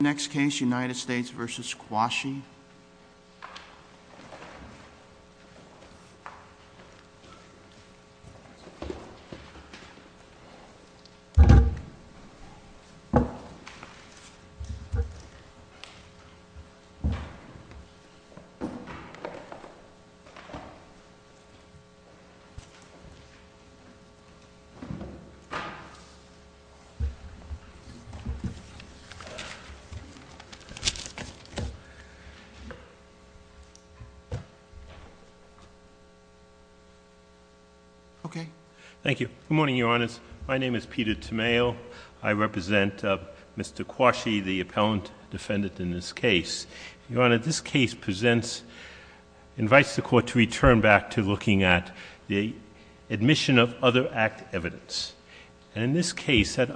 Next case, United States v. Quashie. Okay. Thank you. Good morning, Your Honors. My name is Peter Tomeo. I represent Mr. Quashie, the appellant defendant in this case. Your Honor, this case presents, invites the Court to return back to looking at the admission of other act evidence. And in this case, that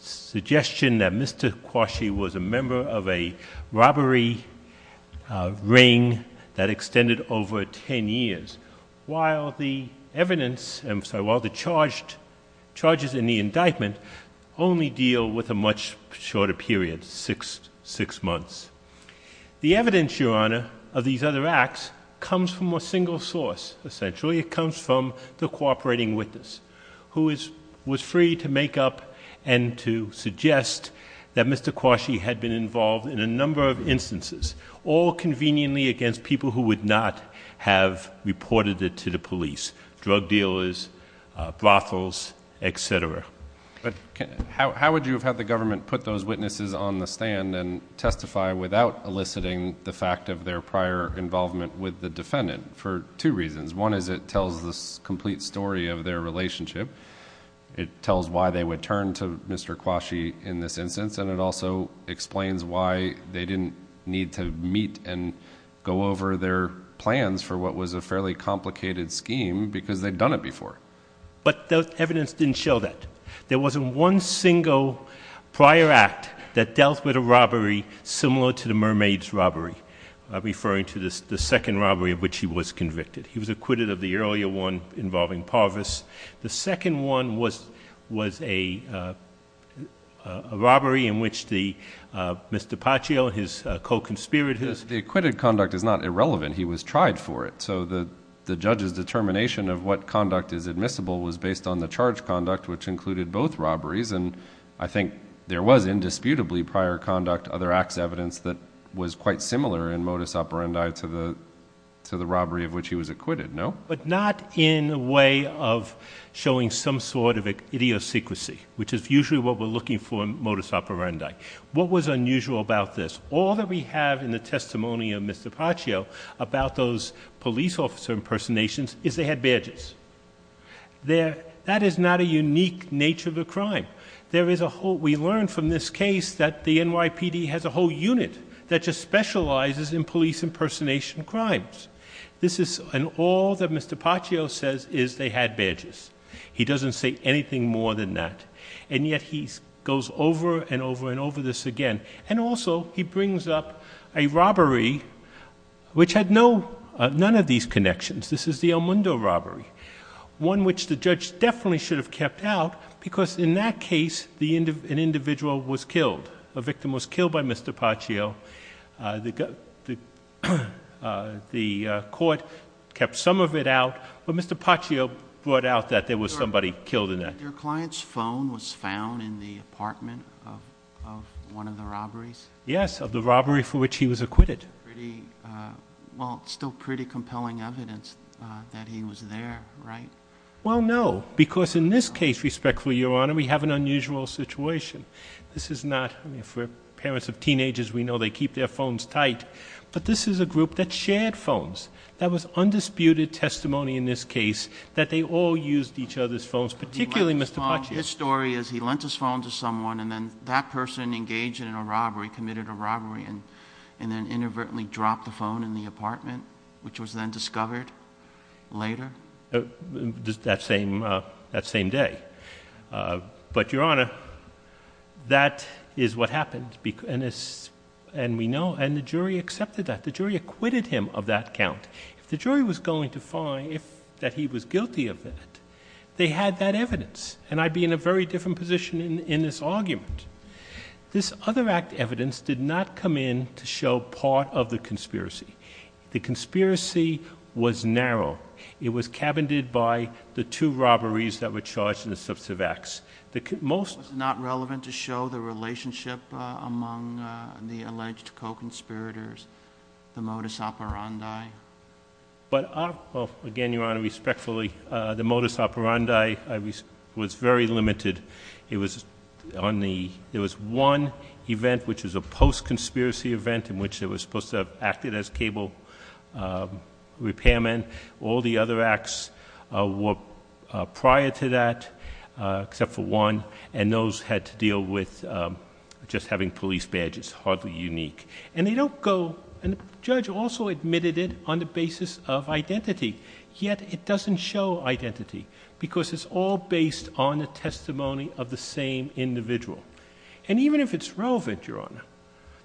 suggestion that Mr. Quashie was a member of a robbery ring that extended over 10 years, while the evidence, I'm sorry, while the charged, charges in the indictment only deal with a much shorter period, six, six months. The evidence, Your Honor, of these other acts comes from a single source. Essentially, it comes from the cooperating witness who is, was free to make up and to suggest that Mr. Quashie had been involved in a number of instances, all conveniently against people who would not have reported it to the police, drug dealers, brothels, etc. But how would you have had the government put those witnesses on the stand and testify without eliciting the fact of their prior involvement with the defendant? For two reasons. One is it tells the complete story of their relationship. It tells why they would turn to Mr. Quashie in this instance. And it also explains why they didn't need to meet and go over their plans for what was a fairly complicated scheme because they'd done it before. But the evidence didn't show that. There wasn't one single prior act that dealt with a robbery similar to the mermaid's robbery, referring to the second robbery of which he was convicted. He was acquitted of the earlier one involving Parvis. The second one was a robbery in which the, Mr. Paccio, his co-conspirators... The acquitted conduct is not irrelevant. He was tried for it. So the judge's determination of what conduct is admissible was based on the charge conduct, which included both robberies. And I think there was indisputably prior conduct other acts evidence that was quite similar in modus operandi to the, to the robbery of which he was acquitted, no? But not in a way of showing some sort of an idiosyncrasy, which is usually what we're looking for in modus operandi. What was unusual about this? All that we have in the testimony of Mr. Paccio about those police officer impersonations is they had badges. That is not a unique nature of a crime. There is a whole... We learned from this case that the NYPD has a whole unit that just specializes in police impersonation crimes. This is an all that Mr. Paccio says is they had badges. He doesn't say anything more than that. And yet he goes over and over and over this again. And also he brings up a robbery which had no, none of these connections. This is the El Mundo robbery, one which the judge definitely should have kept out because in that case, the end of an individual was killed. A victim was killed by Mr. Paccio. The, the, the court kept some of it out, but Mr. Paccio brought out that there was somebody killed in that. Your client's phone was found in the apartment of, of one of the robberies? Yes, of the robbery for which he was acquitted. Pretty, well, still pretty compelling evidence that he was there, right? Well no, because in this case, respectfully, Your Honor, we have an unusual situation. This is not, I mean, for parents of teenagers, we know they keep their phones tight, but this is a group that shared phones. That was undisputed testimony in this case that they all used each other's phones, particularly Mr. Paccio. His story is he lent his phone to someone and then that person engaged in a robbery, committed a robbery, and, and then inadvertently dropped the phone in the apartment, which was then discovered later? That same, that same day. But Your Honor, that is what happened, and it's, and we know, and the jury accepted that. The jury acquitted him of that count. If the jury was going to find if, that he was guilty of that, they had that evidence, and I'd be in a very different position in, in this argument. This other act evidence did not come in to show part of the conspiracy. The conspiracy was narrow. It was cabinded by the two robberies that were charged in the substantive acts. The most— Was it not relevant to show the relationship among the alleged co-conspirators, the modus operandi? But again, Your Honor, respectfully, the modus operandi was very limited. It was on the, there was one event which was a post-conspiracy event in which they were supposed to have acted as cable repairmen. All the other acts were prior to that, except for one, and those had to deal with just having police badges, hardly unique. And they don't go, and the judge also admitted it on the basis of identity, yet it doesn't show identity because it's all based on the testimony of the same individual. And even if it's relevant, Your Honor,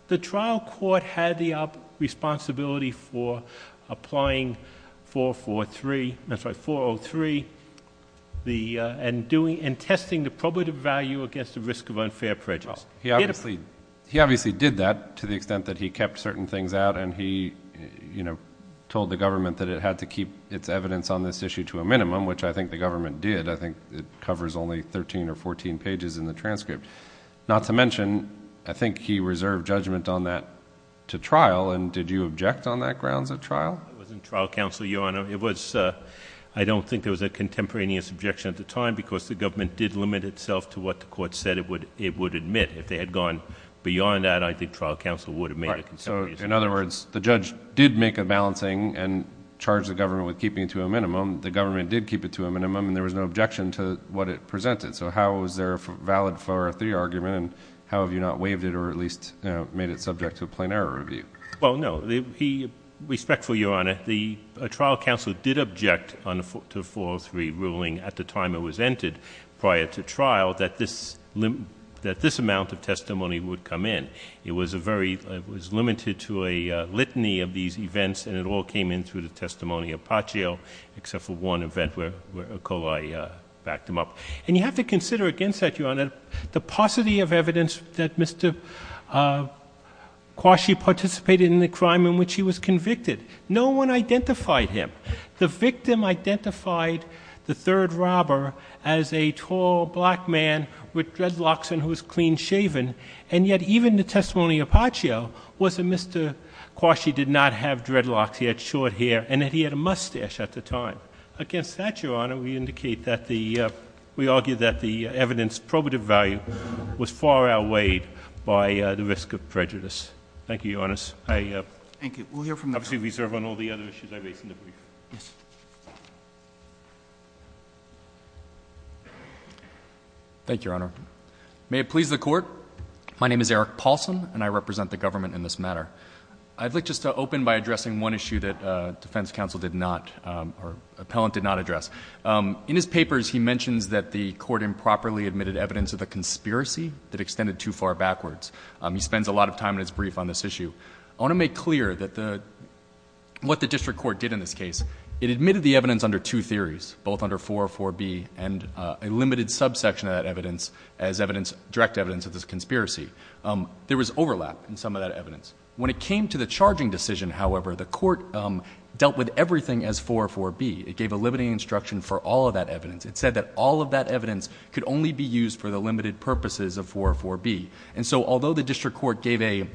the trial court had the responsibility for applying 443, that's right, 403, the, and doing, and testing the probative value against the risk of unfair prejudice. He obviously, he obviously did that to the extent that he kept certain things out, and he, you know, told the government that it had to keep its evidence on this issue to a minimum, which I think the government did. I think it covers only 13 or 14 pages in the transcript. Not to mention, I think he reserved judgment on that to trial, and did you object on that grounds at trial? It wasn't trial counsel, Your Honor. It was, I don't think there was a contemporaneous objection at the time because the government did limit itself to what the court said it would, it would admit. If they had gone beyond that, I think trial counsel would have made a consideration. Right. So, in other words, the judge did make a balancing and charged the government with it, and the government did keep it to a minimum, and there was no objection to what it presented. So how was there a valid 403 argument, and how have you not waived it or at least made it subject to a plain error review? Well, no. He, respectfully, Your Honor, the trial counsel did object on the 403 ruling at the time it was entered prior to trial that this, that this amount of testimony would come in. It was a very, it was limited to a litany of these events, and it all came in through the testimony of Paccio, except for one event where, where Acola backed him up. And you have to consider against that, Your Honor, the paucity of evidence that Mr. Quashie participated in the crime in which he was convicted. No one identified him. The victim identified the third robber as a tall, black man with dreadlocks and who was clean shaven, and yet even the testimony of Paccio was that Mr. Quashie did not have dreadlocks. He had short hair, and that he had a mustache at the time. Against that, Your Honor, we indicate that the, we argue that the evidence probative value was far outweighed by the risk of prejudice. Thank you, Your Honor. I, uh, Thank you. We'll hear from the court. Obviously, we serve on all the other issues I raise in the brief. Yes. Thank you, Your Honor. May it please the Court, my name is Eric Paulson, and I represent the defense counsel did not, um, or appellant did not address. Um, in his papers, he mentions that the court improperly admitted evidence of a conspiracy that extended too far backwards. Um, he spends a lot of time in his brief on this issue. I want to make clear that the, what the district court did in this case, it admitted the evidence under two theories, both under 404B and, uh, a limited subsection of that evidence as evidence, direct evidence of this conspiracy. Um, there was overlap in some of that evidence. When it came to the charging decision, however, the court, um, dealt with everything as 404B. It gave a limiting instruction for all of that evidence. It said that all of that evidence could only be used for the limited purposes of 404B. And so, although the district court gave a,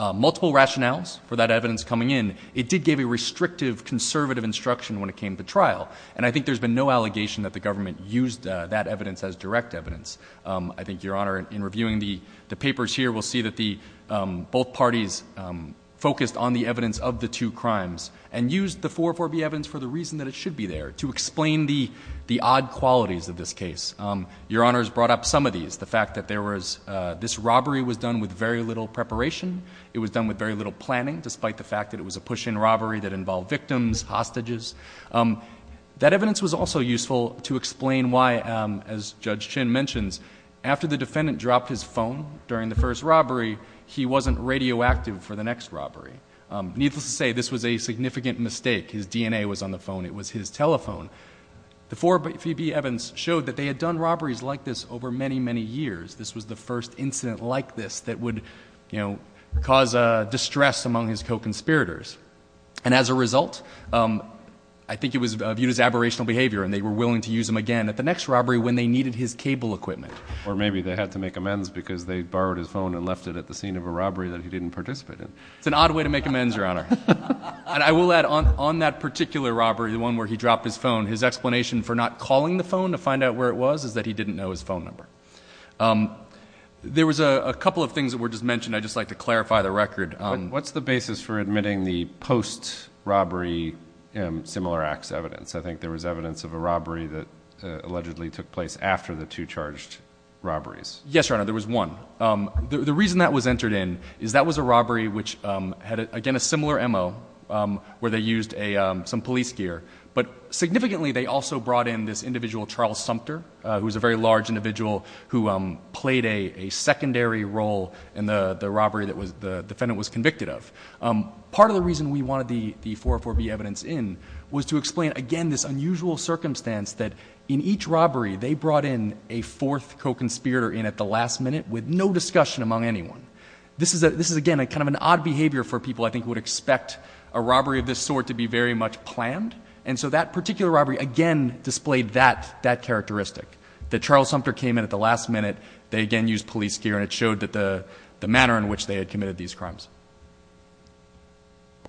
uh, multiple rationales for that evidence coming in, it did give a restrictive conservative instruction when it came to trial. And I think there's been no allegation that the government used, uh, that evidence as direct evidence. Um, I think, Your Honor, in reviewing the, the papers here, we'll see that the, um, both parties, um, focused on the evidence of the two crimes and used the 404B evidence for the reason that it should be there to explain the, the odd qualities of this case. Um, Your Honor has brought up some of these, the fact that there was, uh, this robbery was done with very little preparation. It was done with very little planning, despite the fact that it was a push in robbery that involved victims, hostages. Um, that evidence was also useful to explain why, um, as Judge Chin mentions, after the defendant dropped his phone during the first robbery, he wasn't radioactive for the next robbery. Um, needless to say, this was a significant mistake. His DNA was on the phone. It was his telephone. The 404B evidence showed that they had done robberies like this over many, many years. This was the first incident like this that would, you know, cause, uh, distress among his co-conspirators. And as a result, um, I think it was viewed as aberrational behavior and they were willing to use him again at the next robbery when they needed his cable equipment. Or maybe they had to make amends because they borrowed his phone and left it at the scene of a robbery that he didn't participate in. It's an odd way to make amends, Your Honor. And I will add on, on that particular robbery, the one where he dropped his phone, his explanation for not calling the phone to find out where it was is that he didn't know his phone number. Um, there was a, a couple of things that were just mentioned. I'd just like to clarify the record. Um, what's the basis for admitting the post robbery, um, similar acts evidence? I think there was evidence of a robbery that allegedly took place after the two charged robberies. Yes, Your Honor. There was one. Um, the, the reason that was entered in is that was a robbery which, um, had again a similar MO, um, where they used a, um, some police gear, but significantly they also brought in this individual Charles Sumter, uh, who was a very large individual who, um, played a, a secondary role in the, the robbery that was the defendant was convicted of. Um, part of the reason we wanted the, the 404B evidence in was to explain again, this unusual circumstance that in each robbery, they brought in a fourth co-conspirator in at the last minute with no discussion among anyone. This is a, this is again a kind of an odd behavior for people I think would expect a robbery of this sort to be very much planned. And so that particular robbery again displayed that, that characteristic that Charles Sumter came in at the last minute, they again used police gear and it showed that the, the manner in which they had committed these crimes.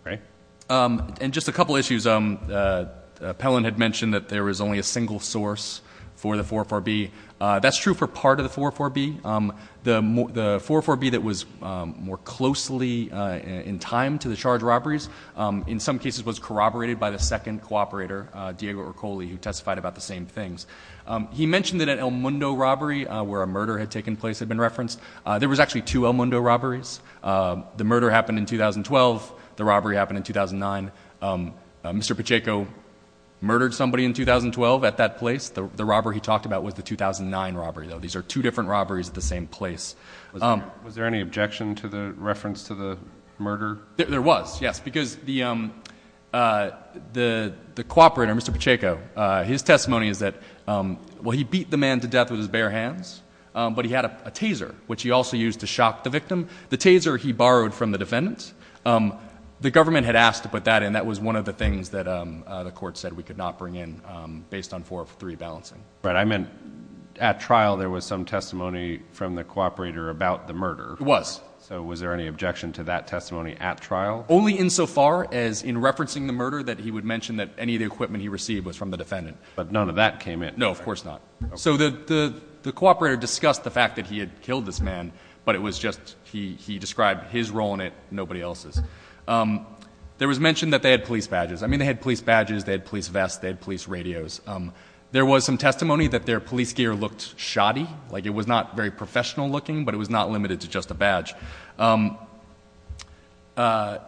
Okay. Um, and just a couple of issues, um, uh, uh, Pellon had mentioned that there was only a single source for the 404B. Uh, that's true for part of the 404B. Um, the, the 404B that was, um, more closely, uh, in time to the charge robberies, um, in some cases was corroborated by the second co-operator, uh, Diego Ercole, who testified about the same things. Um, he mentioned that at El Mundo robbery, uh, where a murder had taken place had been referenced, uh, there was actually two El Mundo robberies. Uh, the murder happened in 2012. The robbery happened in 2009. Um, uh, Mr. Pacheco murdered somebody in 2012 at that place. The, the robber he talked about was the 2009 robbery though. These are two different robberies at the same place. Um, was there any objection to the reference to the murder? There was, yes, because the, um, uh, the, the co-operator, Mr. Pacheco, uh, his testimony is that, um, well, he beat the man to death with his bare hands. Um, but he had a taser, which he also used to shock the victim. The taser he borrowed from the defendant. Um, the government had asked to put that in. That was one of the things that, um, uh, the court said we could not bring in, um, based on four of three balancing. Right. I meant at trial, there was some testimony from the co-operator about the murder. It was. So was there any objection to that testimony at trial? Only in so far as in referencing the murder that he would mention that any of the equipment he received was from the defendant. But none of that came in. No, of course not. So the, the, the co-operator discussed the fact that he had killed this man, but it was just, he, he described his role in it. Nobody else's. Um, there was mentioned that they had police badges. I mean, they had police badges, they had police vests, they had police radios. Um, there was some testimony that their police gear looked shoddy. Like it was not very professional looking, but it was not limited to just a badge. Um, uh,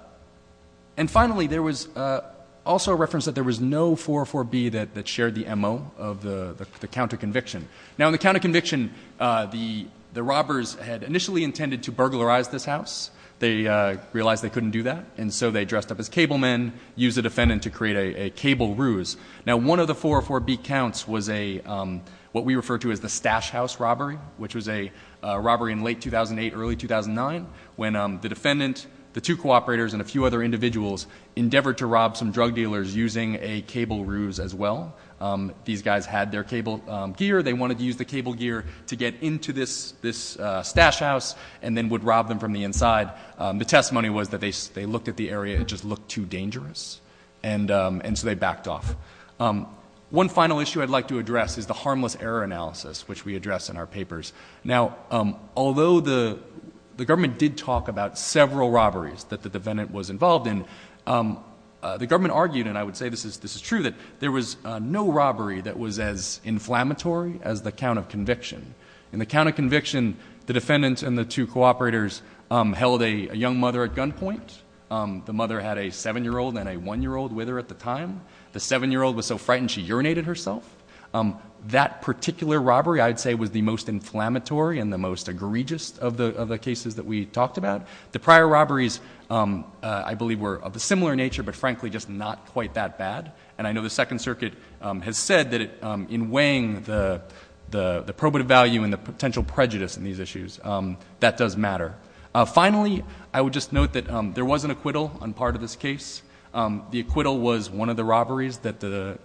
and finally there was, uh, also a reference that there was no four or four B that, that shared the MO of the, the counter conviction. Now in the counter conviction, uh, the, the robbers had initially intended to burglarize this house. They, uh, realized they couldn't do that. And so they dressed up as cable men, use a defendant to create a cable ruse. Now one of the four or four B counts was a, um, what we refer to as the stash house robbery, which was a robbery in late 2008, early 2009 when I'm the defendant, the two co-operators and a few other individuals endeavored to rob some drug dealers using a cable ruse as well. Um, these guys had their cable gear. They wanted to use the cable gear to get into this, this, uh, stash house and then would rob them from the inside. Um, the testimony was that they, they looked at the area. It just looked too dangerous. And, um, and so they backed off. Um, one final issue I'd like to address is the harmless error analysis, which we address in our papers. Now, um, although the, the government did talk about several robberies that the defendant was involved in, um, uh, the government argued, and I would say this is, this is true, that there was a no robbery that was as inflammatory as the count of conviction and the count of conviction, the defendants and the two co-operators, um, held a young mother at gunpoint. Um, the mother had a seven-year-old and a one-year-old with her at the time. The seven-year-old was so frightened she urinated herself. Um, that particular robbery I'd say was the most inflammatory and the most egregious of the, of the cases that we talked about. The prior robberies, um, uh, I believe were of a similar nature, but frankly, just not quite that bad. And I know the second circuit, um, has said that, um, in weighing the, the, the probative value and the potential prejudice in these issues, um, that does matter. Uh, finally, I would just note that, um, there was an acquittal on part of this case. Um, the acquittal was one of the robberies that the,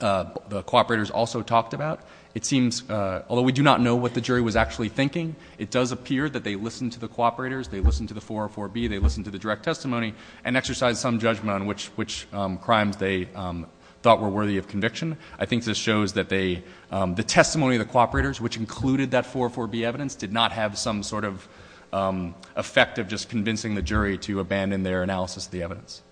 uh, the co-operators also talked about. It seems, uh, although we do not know what the jury was actually thinking, it does appear that they listened to the co-operators, they listened to the 404B, they listened to the direct testimony and exercised some judgment on which, which, um, crimes they, um, thought were worthy of evidence did not have some sort of, um, effect of just convincing the jury to abandon their analysis of the evidence.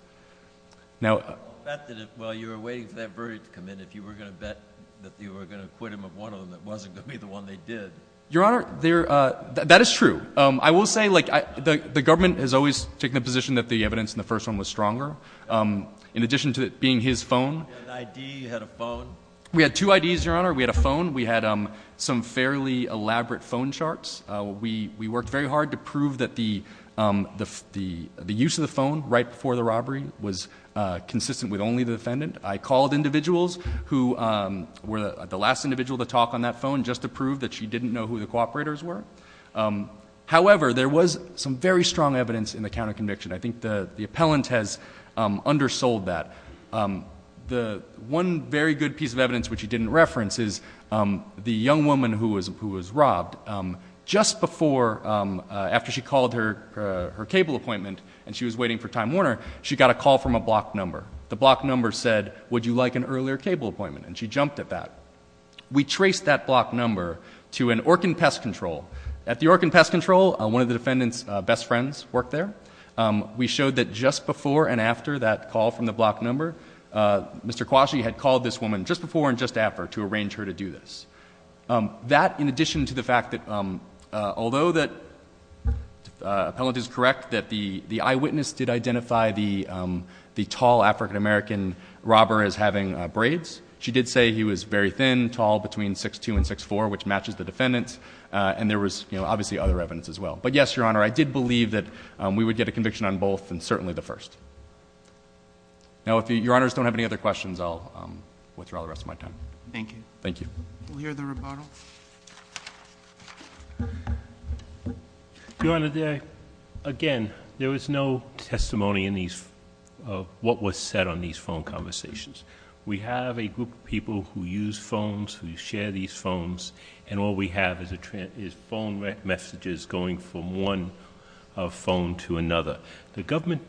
Now, uh, I bet that while you were waiting for that verdict to come in, if you were going to bet that you were going to acquit him of one of them, it wasn't going to be the one they did. Your Honor, there, uh, that, that is true. Um, I will say, like, I, the, the government has always taken the position that the evidence in the first one was stronger. Um, in addition to it being his phone, You had an ID, you had a phone? We had two IDs, Your Honor. We had a phone. We had, um, some fairly elaborate phone charts. Uh, we, we worked very hard to prove that the, um, the, the, the use of the phone right before the robbery was, uh, consistent with only the defendant. I called individuals who, um, were the last individual to talk on that phone just to prove that she didn't know who the co-operators were. Um, however, there was some very strong evidence in the counterconviction. I think the, the appellant has, um, undersold that. Um, the one very good piece of evidence which he didn't reference is, um, the young woman who was, who was robbed, um, just before, um, uh, after she called her, uh, her cable appointment and she was waiting for Time Warner, she got a call from a block number. The block number said, would you like an earlier cable appointment? And she jumped at that. We traced that block number to an Orkin Pest Control. At the Orkin Pest Control, one of the defendant's, uh, best friends worked there. Um, we showed that just before and after that call from the block number, uh, Mr. Quashie had called this woman just before and just after to arrange her to do this. Um, that in addition to the fact that, um, uh, although that, uh, the appellant is correct that the, the eyewitness did identify the, um, the tall African American robber as having, uh, braids. She did say he was very thin, tall, between 6'2 and 6'4, which matches the defendant's. Uh, and there was, you know, obviously other evidence as well. But yes, Your Honor, I did believe that, um, we would get a conviction on both and certainly the first. Now, if Your Honors don't have any other questions, I'll, um, withdraw the rest of my time. Thank you. Thank you. We'll hear the rebuttal. Your Honor, there, again, there was no testimony in these, uh, what was said on these phone conversations. We have a group of people who use phones, who share these phones, and all we have is a trend, is phone messages going from one, uh, phone to another. The government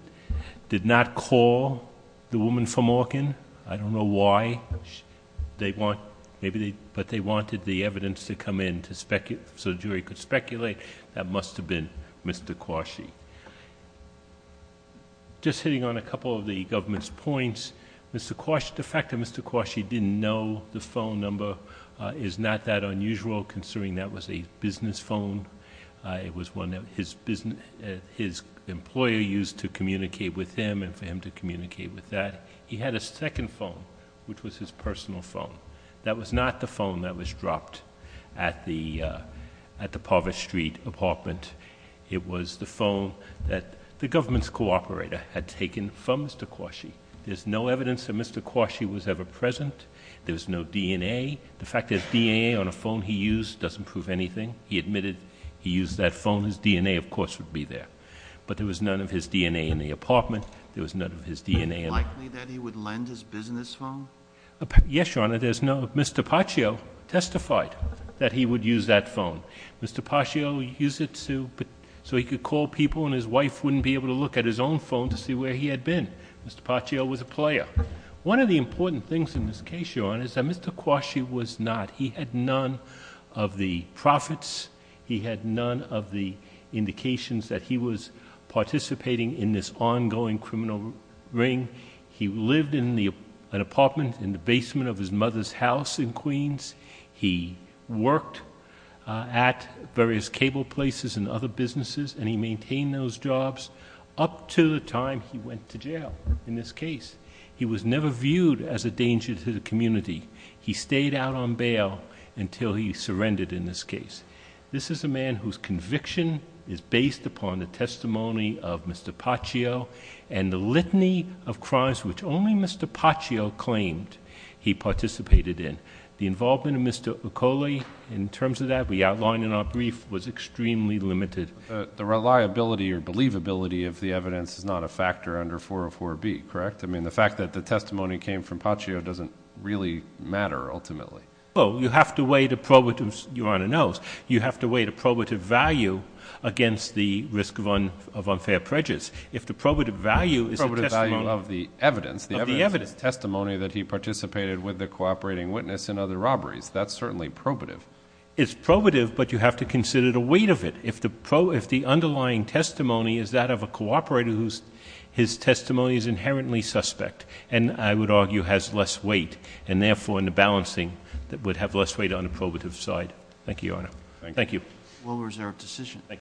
did not call the woman from Orkin. I don't know why they want, maybe they, but they wanted the evidence to come in to speculate, so the jury could speculate that must have been Mr. Quashie. Just hitting on a couple of the government's points, Mr. Quashie, the fact that Mr. Quashie didn't know the phone number, uh, is not that unusual considering that was a business phone. Uh, it was one that his business, uh, his employer used to communicate with him and for him to communicate with that. He had a second phone, which was his personal phone. That was not the phone that was dropped at the, uh, at the Parvis Street apartment. It was the phone that the government's co-operator had taken from Mr. Quashie. There's no evidence that Mr. Quashie was ever present. There's no DNA. The fact that DNA on a phone he used doesn't prove anything. He admitted he used that phone. His DNA, of course, would be there, but there was none of his DNA in the apartment. There was none of his DNA in the... Is it likely that he would lend his business phone? Yes, Your Honor. There's no... Mr. Paccio testified that he would use that phone. Mr. Paccio used it to... so he could call people and his wife wouldn't be able to look at his own phone to see where he had been. Mr. Paccio was a player. One of the important things in this case, Your Honor, is that Mr. Quashie was not... he had none of the profits. He had none of the indications that he was participating in this ongoing criminal ring. He lived in an apartment in the basement of his mother's house in Queens. He worked at various cable places and other businesses, and he maintained those jobs up to the time he went to jail in this case. He was never viewed as a danger to the community. He stayed out on bail until he surrendered in this case. This is a man whose conviction is based upon the testimony of Mr. Paccio and the litany of crimes which only Mr. Paccio claimed he participated in. The involvement of Mr. Uccoli in terms of that we outlined in our brief was extremely limited. The reliability or believability of the evidence is not a factor under 404B, correct? I mean, the fact that the testimony came from Paccio doesn't really matter ultimately. Well, you have to weigh the probative... Your Honor knows. You have to weigh the probative value against the risk of unfair prejudice. If the probative value is the testimony... The probative value of the evidence. Of the evidence. The evidence is testimony that he participated with the cooperating witness in other robberies. That's certainly probative. It's probative, but you have to consider the weight of it. If the underlying testimony is that of a cooperator whose testimony is inherently suspect, and I would argue has less weight, and therefore in the balancing would have less weight on the probative side. Thank you, Your Honor. Thank you. Well, was there a decision...